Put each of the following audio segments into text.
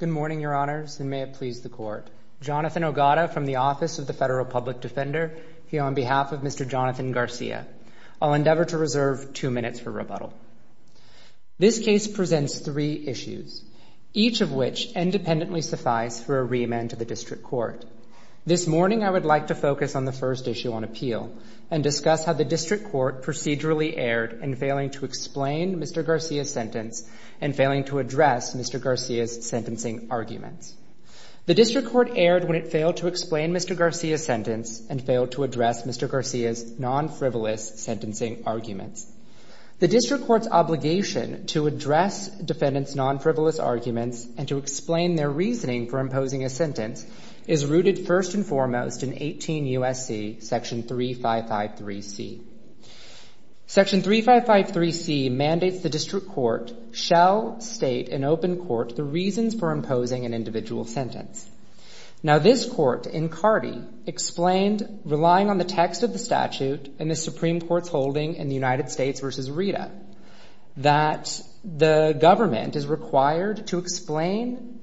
Good morning, Your Honors, and may it please the Court. Jonathan Ogata from the Office of the Federal Public Defender here on behalf of Mr. Jonathan Garcia. I'll endeavor to reserve two minutes for rebuttal. This case presents three issues, each of which independently suffice for a reamend to the District Court. This morning, I would like to focus on the District Court procedurally erred in failing to explain Mr. Garcia's sentence and failing to address Mr. Garcia's sentencing arguments. The District Court erred when it failed to explain Mr. Garcia's sentence and failed to address Mr. Garcia's non-frivolous sentencing arguments. The District Court's obligation to address defendants' non-frivolous arguments and to explain their reasoning for imposing a sentence is rooted first and foremost in Section 3553C mandates the District Court shall state in open court the reasons for imposing an individual sentence. Now, this Court, in Cardi, explained, relying on the text of the statute in the Supreme Court's holding in the United States v. Rita, that the government is required to explain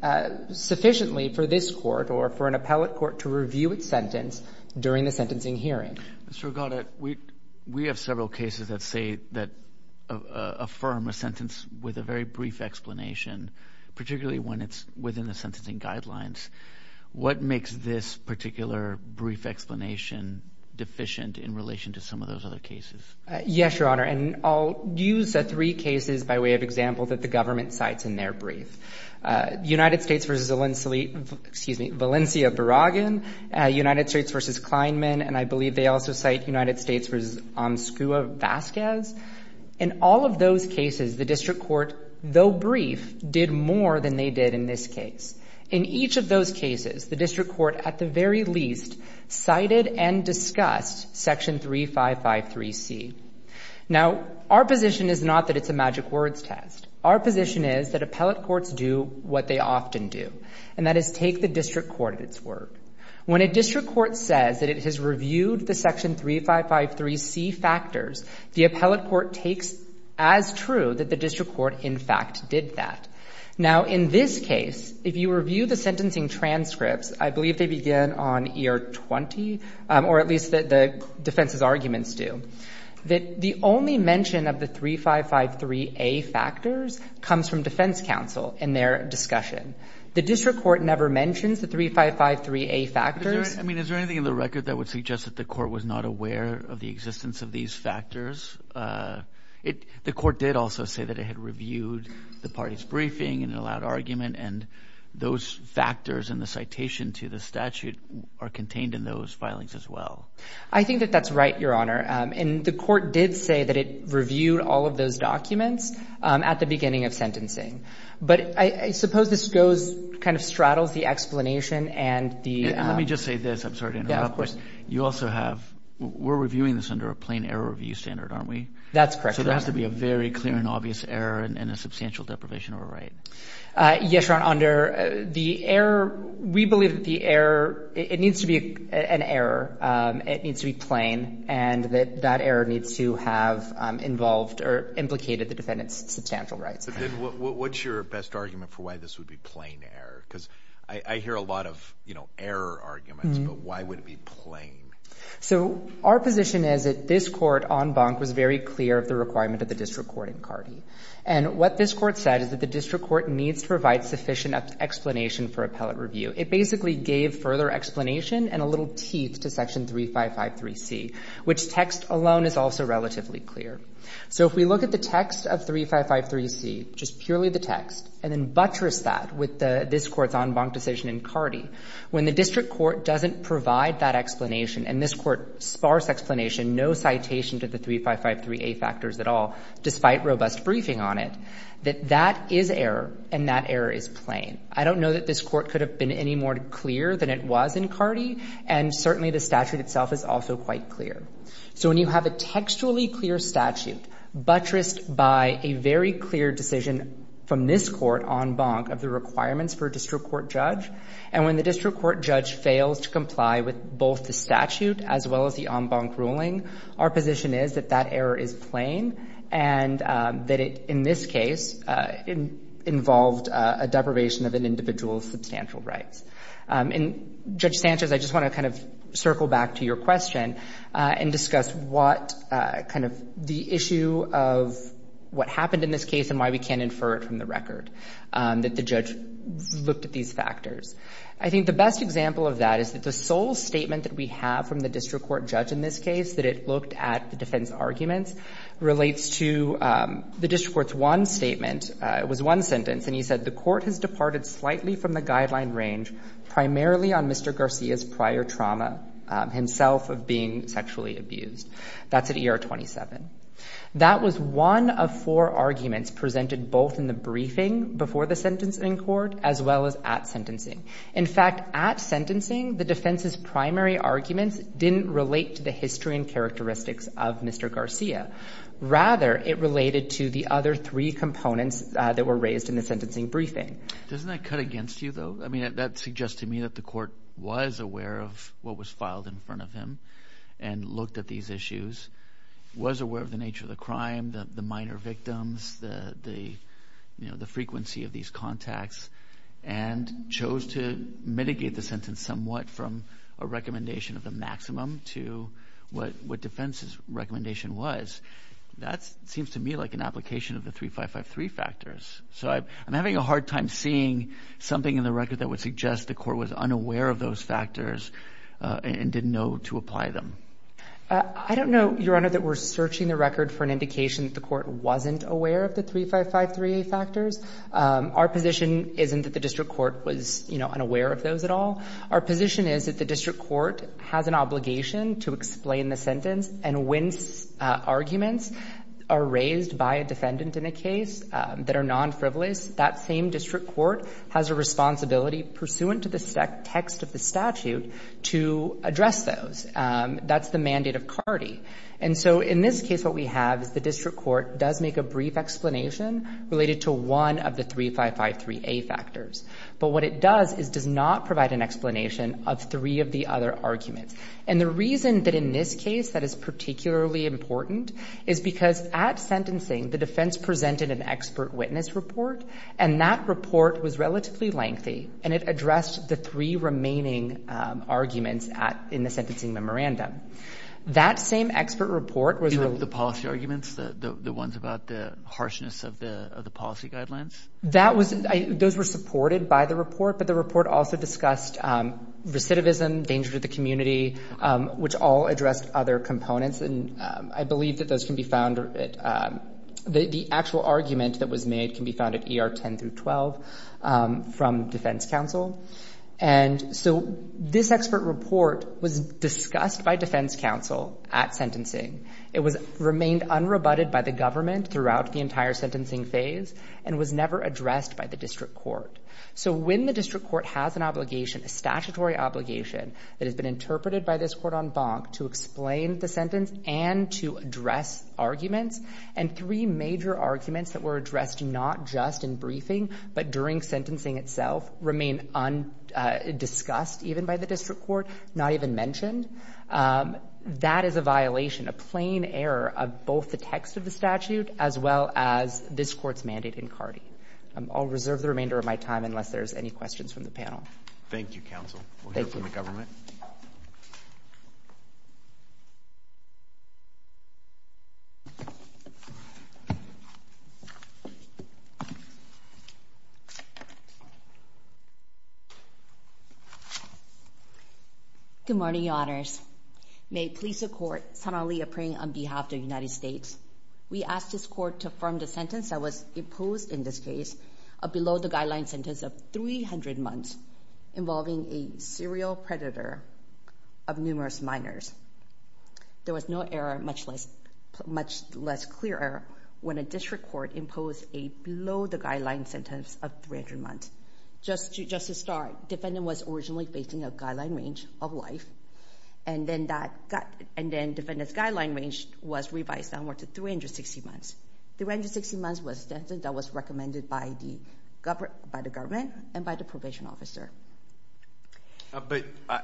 sufficiently for this Court or for an appellate court to review its sentence during the sentencing hearing. Mr. Ogata, we have several cases that say, that affirm a sentence with a very brief explanation, particularly when it's within the sentencing guidelines. What makes this particular brief explanation deficient in relation to some of those other cases? Yes, Your Honor, and I'll use three cases by way of example that the government cites in their brief. United States v. Valencia Barragan, United States v. Kleinman, and I believe they also cite United States v. Omskua Vasquez. In all of those cases, the District Court, though brief, did more than they did in this case. In each of those cases, the District Court, at the very least, cited and discussed Section 3553C. Now, our position is not that it's a magic words test. Our position is that appellate courts do what they often do, and that is take the District Court at its word. When a District Court says that it has reviewed the Section 3553C factors, the appellate court takes as true that the District Court, in fact, did that. Now, in this case, if you review the sentencing transcripts, I believe they begin on year 20, or at least the defense's arguments do, that the only mention of the 3553A factors comes from defense counsel in their discussion. The District Court never mentions the 3553A factors. I mean, is there anything in the record that would suggest that the court was not aware of the existence of these factors? The court did also say that it had reviewed the party's in those filings as well. I think that that's right, Your Honor. And the court did say that it reviewed all of those documents at the beginning of sentencing. But I suppose this goes, kind of straddles the explanation and the... And let me just say this. I'm sorry to interrupt, but you also have... We're reviewing this under a plain error review standard, aren't we? That's correct, Your Honor. So there has to be a very clear and obvious error and a substantial deprivation of a right? Yes, Your Honor. Under the error... We believe that the error... It needs to be an error. It needs to be plain, and that that error needs to have involved or implicated the defendant's substantial rights. But then what's your best argument for why this would be plain error? Because I hear a lot of error arguments, but why would it be plain? So our position is that this court, en banc, was very clear of the requirement of the District Court in CARDI. And what this court said is that the District Court needs to provide sufficient explanation for appellate review. It basically gave further explanation and a little teeth to Section 3553C, which text alone is also relatively clear. So if we look at the text of 3553C, just purely the text, and then buttress that with this court's en banc decision in CARDI, when the District Court doesn't provide that explanation and this court's sparse explanation, no citation to the 3553A factors at all, despite robust briefing on it, that that is error, and that error is plain. I don't know that this court could have been any more clear than it was in CARDI, and certainly the statute itself is also quite clear. So when you have a textually clear statute buttressed by a very clear decision from this court en banc of the requirements for a District Court judge, and when the District Court judge fails to comply with both the statute as well as the en banc ruling, our position is that that error is plain and that it, in this case, involved a deprivation of an individual's substantial rights. And Judge Sanchez, I just want to kind of circle back to your question and discuss what kind of the issue of what happened in this case and why we can't infer it from the record that the judge looked at these factors. I think the best example of that is that the sole statement that we have from the District Court judge in this case, that it looked at the defense arguments, relates to the District Court's one statement, it was one sentence, and he said, the court has departed slightly from the guideline range primarily on Mr. Garcia's prior trauma himself of being sexually abused. That's at ER 27. That was one of four arguments presented both in the briefing before the sentence in court as well as at sentencing. In fact, at sentencing, the defense's primary arguments didn't relate to the history and characteristics of Mr. Garcia. Rather, it related to the other three components that were raised in the sentencing briefing. Doesn't that cut against you, though? I mean, that suggests to me that the court was aware of what was filed in front of him and looked at these issues, was aware of the nature of the crime, the minor victims, the frequency of these contacts, and chose to mitigate the sentence somewhat from a recommendation of the maximum to what defense's recommendation was. That seems to me like an application of the 3553 factors. So I'm having a hard time seeing something in the record that would suggest the court was unaware of those factors and didn't know to apply them. I don't know, Your Honor, that we're searching the record for an indication that the court wasn't aware of the 3553 factors. Our position isn't that the district court was, you know, unaware of those at all. Our position is that the district court has an obligation to explain the sentence. And when arguments are raised by a defendant in a case that are non-frivolous, that same district court has a responsibility pursuant to the text of the statute to address those. That's the mandate of CARDI. And so in this case, what we have is the district court does make a brief explanation related to one of the 3553A factors. But what it does is does not provide an explanation of three of the other arguments. And the reason that in this case that is particularly important is because at sentencing, the defense presented an expert witness report, and that report was relatively lengthy, and it addressed the three remaining arguments in the sentencing memorandum. That same expert report was... You mean the policy arguments, the ones about the harshness of the policy guidelines? That was... Those were supported by the report, but the report also discussed recidivism, danger to the community, which all addressed other components, and I believe that those can be found at... The actual argument that was made can be found at ER 10 through 12 from defense counsel. And so this expert report was discussed by defense counsel at sentencing. It remained unrebutted by the government throughout the entire sentencing phase and was never addressed by the district court. So when the district court has an obligation, a statutory obligation that has been interpreted by this court en banc to explain the sentence and to address arguments, and three major arguments that were addressed not just in briefing but during sentencing itself remain undiscussed, even by the district court, not even mentioned, that is a violation, a plain error of both the text of the statute as well as this court's mandate in CARTI. I'll reserve the remainder of my time unless there's any questions from the panel. Thank you, counsel. Thank you. We'll hear from the government. Good morning, your honors. May it please the court, Senator Leah Pring on behalf of the United States. We ask this court to affirm the sentence that was imposed in this case, a below-the-guideline sentence of 300 months involving a serial predator of numerous minors. There was no error, much less clear error, when a district court imposed a below-the-guideline sentence of 300 months. Just to start, defendant was originally facing a guideline range of life, and then defendant's guideline range was revised downward to 360 months. The range of 360 months was recommended by the government and by the probation officer.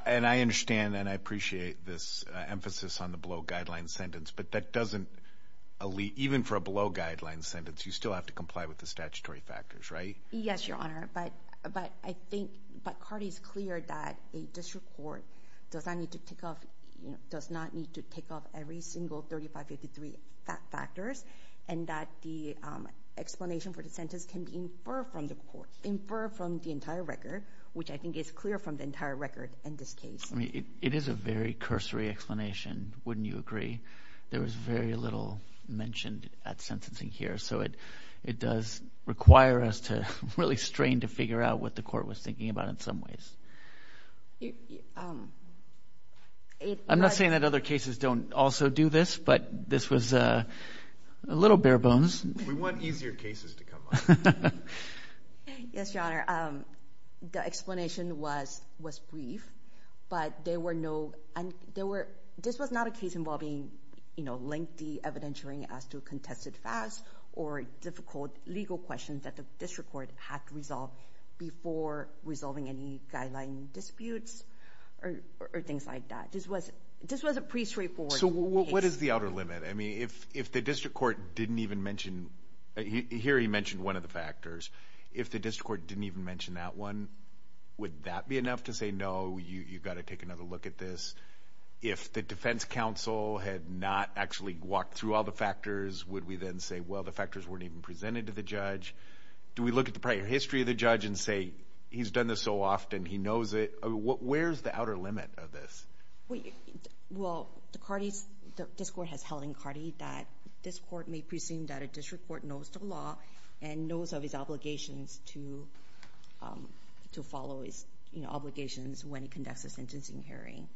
And I understand and I appreciate this emphasis on the below-guideline sentence, but that doesn't, even for a below-guideline sentence, you still have to comply with the statutory factors, right? Yes, your honor, but I think CARTI is clear that a district court does not need to take off every single 3553 factors, and that the explanation for the sentence can be inferred from the court, inferred from the entire record, which I think is clear from the entire record in this case. I mean, it is a very cursory explanation, wouldn't you agree? There was very little mentioned at sentencing here, so it does require us to really strain to figure out what the court was thinking about in some ways. I'm not saying that other cases don't also do this, but this was a little bare-bones. We want easier cases to come up. Yes, your honor, the explanation was brief, but there were no, and there were, this was not a case involving, you know, lengthy evidentiary as to contested facts or difficult legal questions that the district court had to resolve before resolving any guideline disputes or things like that. This was a pretty straightforward case. What is the outer limit? I mean, if the district court didn't even mention, here he mentioned one of the factors, if the district court didn't even mention that one, would that be enough to say, no, you've got to take another look at this? If the defense counsel had not actually walked through all the factors, would we then say, well, the factors weren't even presented to the judge? Do we look at the prior history of the judge and say, he's done this so often, he knows it? Where's the outer limit of this? Well, the court has held in Cardi that this court may presume that a district court knows the law and knows of his obligations to follow his obligations when he conducts a sentencing hearing.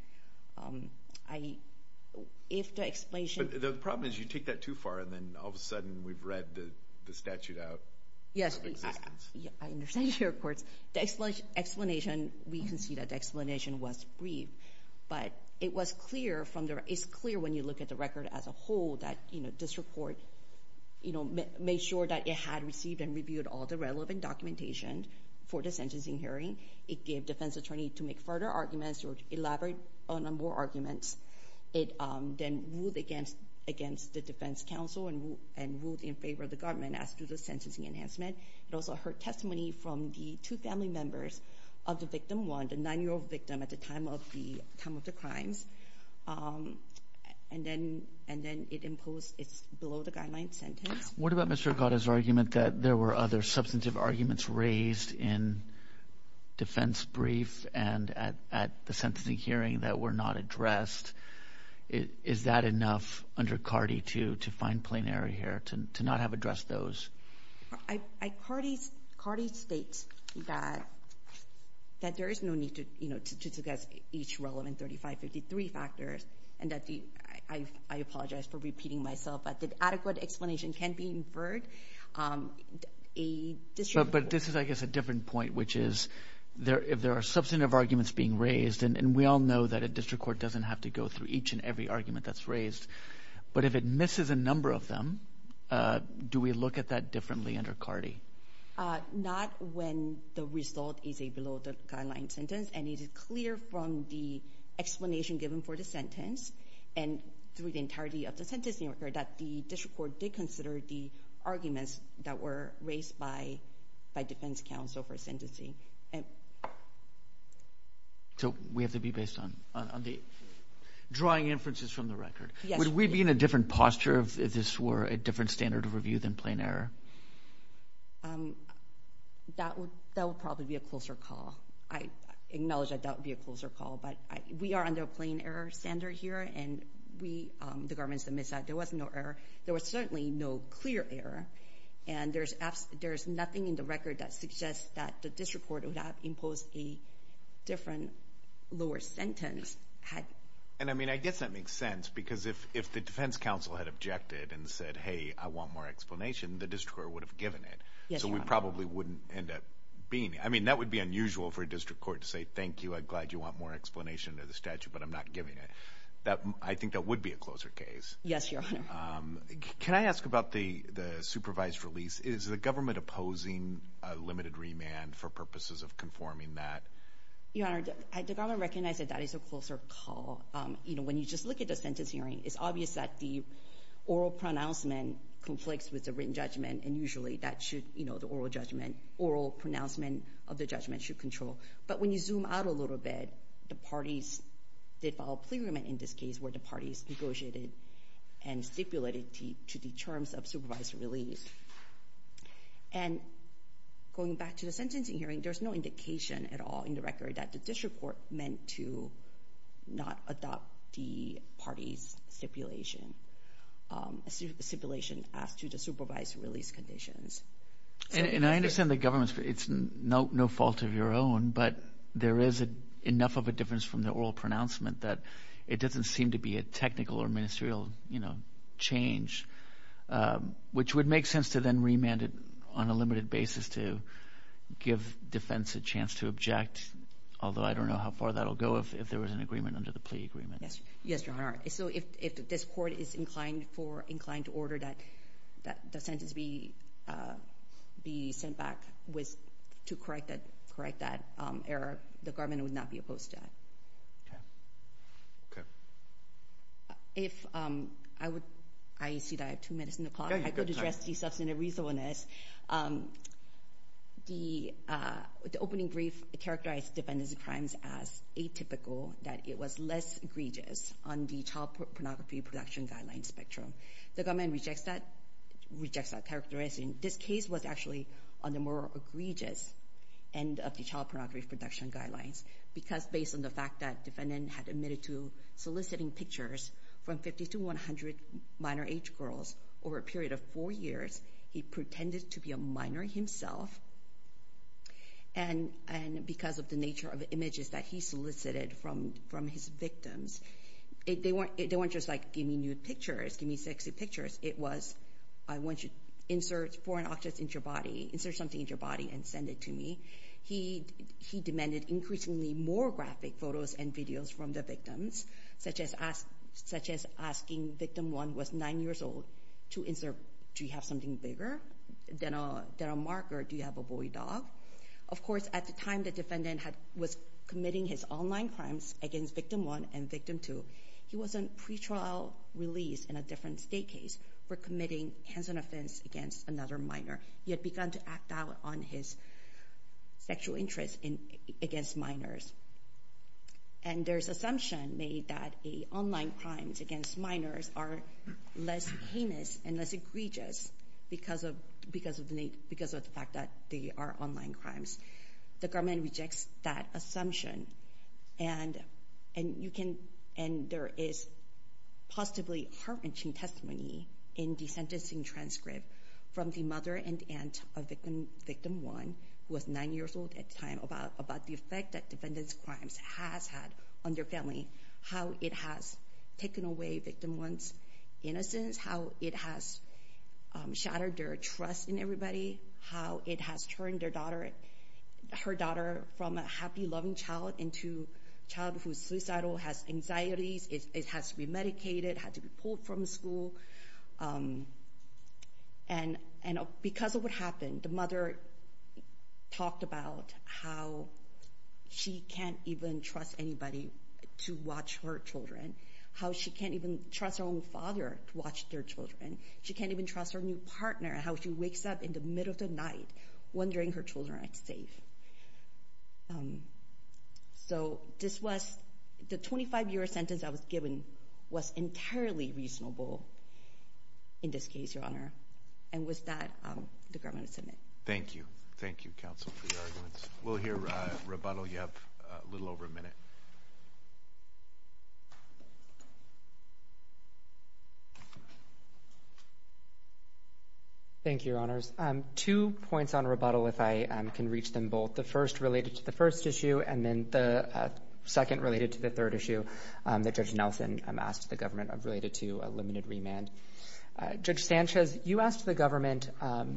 If the explanation... The problem is you take that too far, and then all of a sudden we've read the statute out of existence. Yes. I understand, Your Honor. Of course, the explanation, we can see that the explanation was brief, but it was clear from the... It's clear when you look at the record as a whole that, you know, district court, you know, made sure that it had received and reviewed all the relevant documentation for the sentencing hearing. It gave defense attorney to make further arguments or elaborate on more arguments. It then ruled against the defense counsel and ruled in favor of the government as to the sentencing enhancement. It also heard testimony from the two family members of the victim, one, the nine-year-old victim at the time of the crimes, and then it imposed it's below the guideline sentence. What about Mr. Acotta's argument that there were other substantive arguments raised in the defense brief and at the sentencing hearing that were not addressed? Is that enough under CARDI to find plain error here, to not have addressed those? CARDI states that there is no need to, you know, to suggest each relevant 3553 factors, and that the... I apologize for repeating myself, but the adequate explanation can be inferred. But this is, I guess, a different point, which is if there are substantive arguments being raised, and we all know that a district court doesn't have to go through each and every argument that's raised, but if it misses a number of them, do we look at that differently under CARDI? Not when the result is a below the guideline sentence, and it is clear from the explanation given for the sentence and through the entirety of the sentencing that the district court did consider the arguments that were raised by defense counsel for sentencing. So we have to be based on the drawing inferences from the record. Yes. Would we be in a different posture if this were a different standard of review than plain error? That would probably be a closer call. I acknowledge that that would be a closer call, but we are under a plain error standard here, and we, the governments that missed that, there was no error. There was certainly no clear error, and there is nothing in the record that suggests that the district court would have imposed a different lower sentence. And I guess that makes sense, because if the defense counsel had objected and said, hey, I want more explanation, the district court would have given it. Yes, Your Honor. So we probably wouldn't end up being, I mean, that would be unusual for a district court to say, thank you, I'm glad you want more explanation of the statute, but I'm not giving I think that would be a closer case. Yes, Your Honor. Can I ask about the supervised release? Is the government opposing a limited remand for purposes of conforming that? Your Honor, the government recognized that that is a closer call. You know, when you just look at the sentence hearing, it's obvious that the oral pronouncement conflicts with the written judgment, and usually that should, you know, the oral judgment, oral pronouncement of the judgment should control. But when you zoom out a little bit, the parties did file a plea agreement in this case where the parties negotiated and stipulated to the terms of supervised release. And going back to the sentencing hearing, there's no indication at all in the record that the district court meant to not adopt the party's stipulation, stipulation as to the supervised release conditions. And I understand the government's, it's no fault of your own, but there is enough of a difference from the oral pronouncement that it doesn't seem to be a technical or ministerial, you know, change, which would make sense to then remand it on a limited basis to give defense a chance to object, although I don't know how far that'll go if there was an agreement under the plea agreement. Yes, Your Honor. So, if this court is inclined for, inclined to order that the sentence be sent back to correct that error, the government would not be opposed to that. Okay. Okay. If, I would, I see that I have two minutes on the clock, I could address the substantive reasonableness. The opening brief characterized defendants of crimes as atypical, that it was less egregious on the child pornography production guideline spectrum. The government rejects that, rejects that characteristic. This case was actually on the more egregious end of the child pornography production guidelines, because based on the fact that defendant had admitted to soliciting pictures from 50 to 100 minor age girls over a period of four years, he pretended to be a minor himself, and because of the nature of the images that he solicited from his victims, they weren't just like, give me nude pictures, give me sexy pictures. It was, I want you to insert foreign objects into your body, insert something into your body and send it to me. He demanded increasingly more graphic photos and videos from the victims, such as asking victim one was nine years old to insert, do you have something bigger than a marker, do you have a boy dog? Of course, at the time the defendant was committing his online crimes against victim one and victim two, he was on pretrial release in a different state case for committing hands-on offense against another minor. He had begun to act out on his sexual interest against minors. And there's assumption made that online crimes against minors are less heinous and less egregious because of the fact that they are online crimes. The government rejects that assumption, and there is positively heart-wrenching testimony in the sentencing transcript from the mother and aunt of victim one, who was nine years old at the time, about the effect that defendant's crimes has had on their family, how it has taken away victim one's innocence, how it has shattered their trust in everybody, how it has turned her daughter from a happy, loving child into a child who's suicidal, has anxieties, it has to be medicated, had to be pulled from school. And because of what happened, the mother talked about how she can't even trust anybody to watch her children, how she can't even trust her own father to watch their children, she can't even trust her new partner, how she wakes up in the middle of the night wondering her children are not safe. So this was, the 25-year sentence I was given was entirely reasonable in this case, Your Honor. And with that, the government is admitted. Thank you. Thank you, counsel, for your arguments. We'll hear rebuttal. You have a little over a minute. Thank you, Your Honors. Two points on rebuttal, if I can reach them both, the first related to the first issue, and then the second related to the third issue that Judge Nelson asked the government related to a limited remand. Judge Sanchez, you asked the government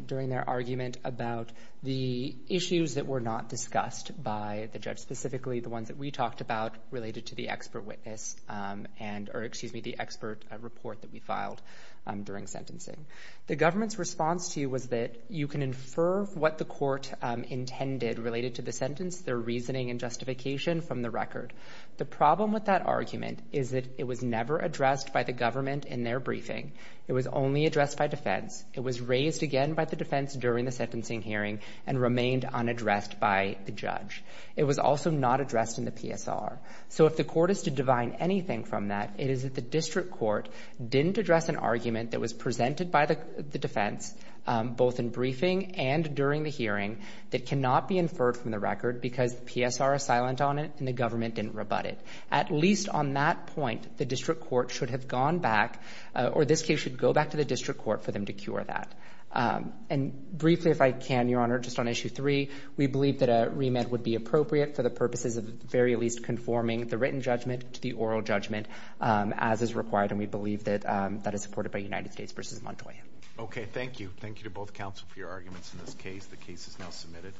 during their argument about the issues that were not discussed by the judge, specifically the ones that we talked about related to the expert witness and, or excuse me, the expert report that we filed during sentencing. The government's response to you was that you can infer what the court intended related to the sentence, their reasoning and justification from the record. The problem with that argument is that it was never addressed by the government in their briefing. It was only addressed by defense. It was raised again by the defense during the sentencing hearing and remained unaddressed by the judge. It was also not addressed in the PSR. So if the court is to divine anything from that, it is that the district court didn't address an argument that was presented by the defense both in briefing and during the hearing that cannot be inferred from the record because the PSR is silent on it and the government didn't rebut it. At least on that point, the district court should have gone back, or this case should go back to the district court for them to cure that. And briefly, if I can, Your Honor, just on issue three, we believe that a remand would be appropriate for the purposes of at the very least conforming the written judgment to the oral judgment as is required, and we believe that that is supported by United States v. Montoya. Okay. Thank you. Thank you to both counsel for your arguments in this case. The case is now submitted.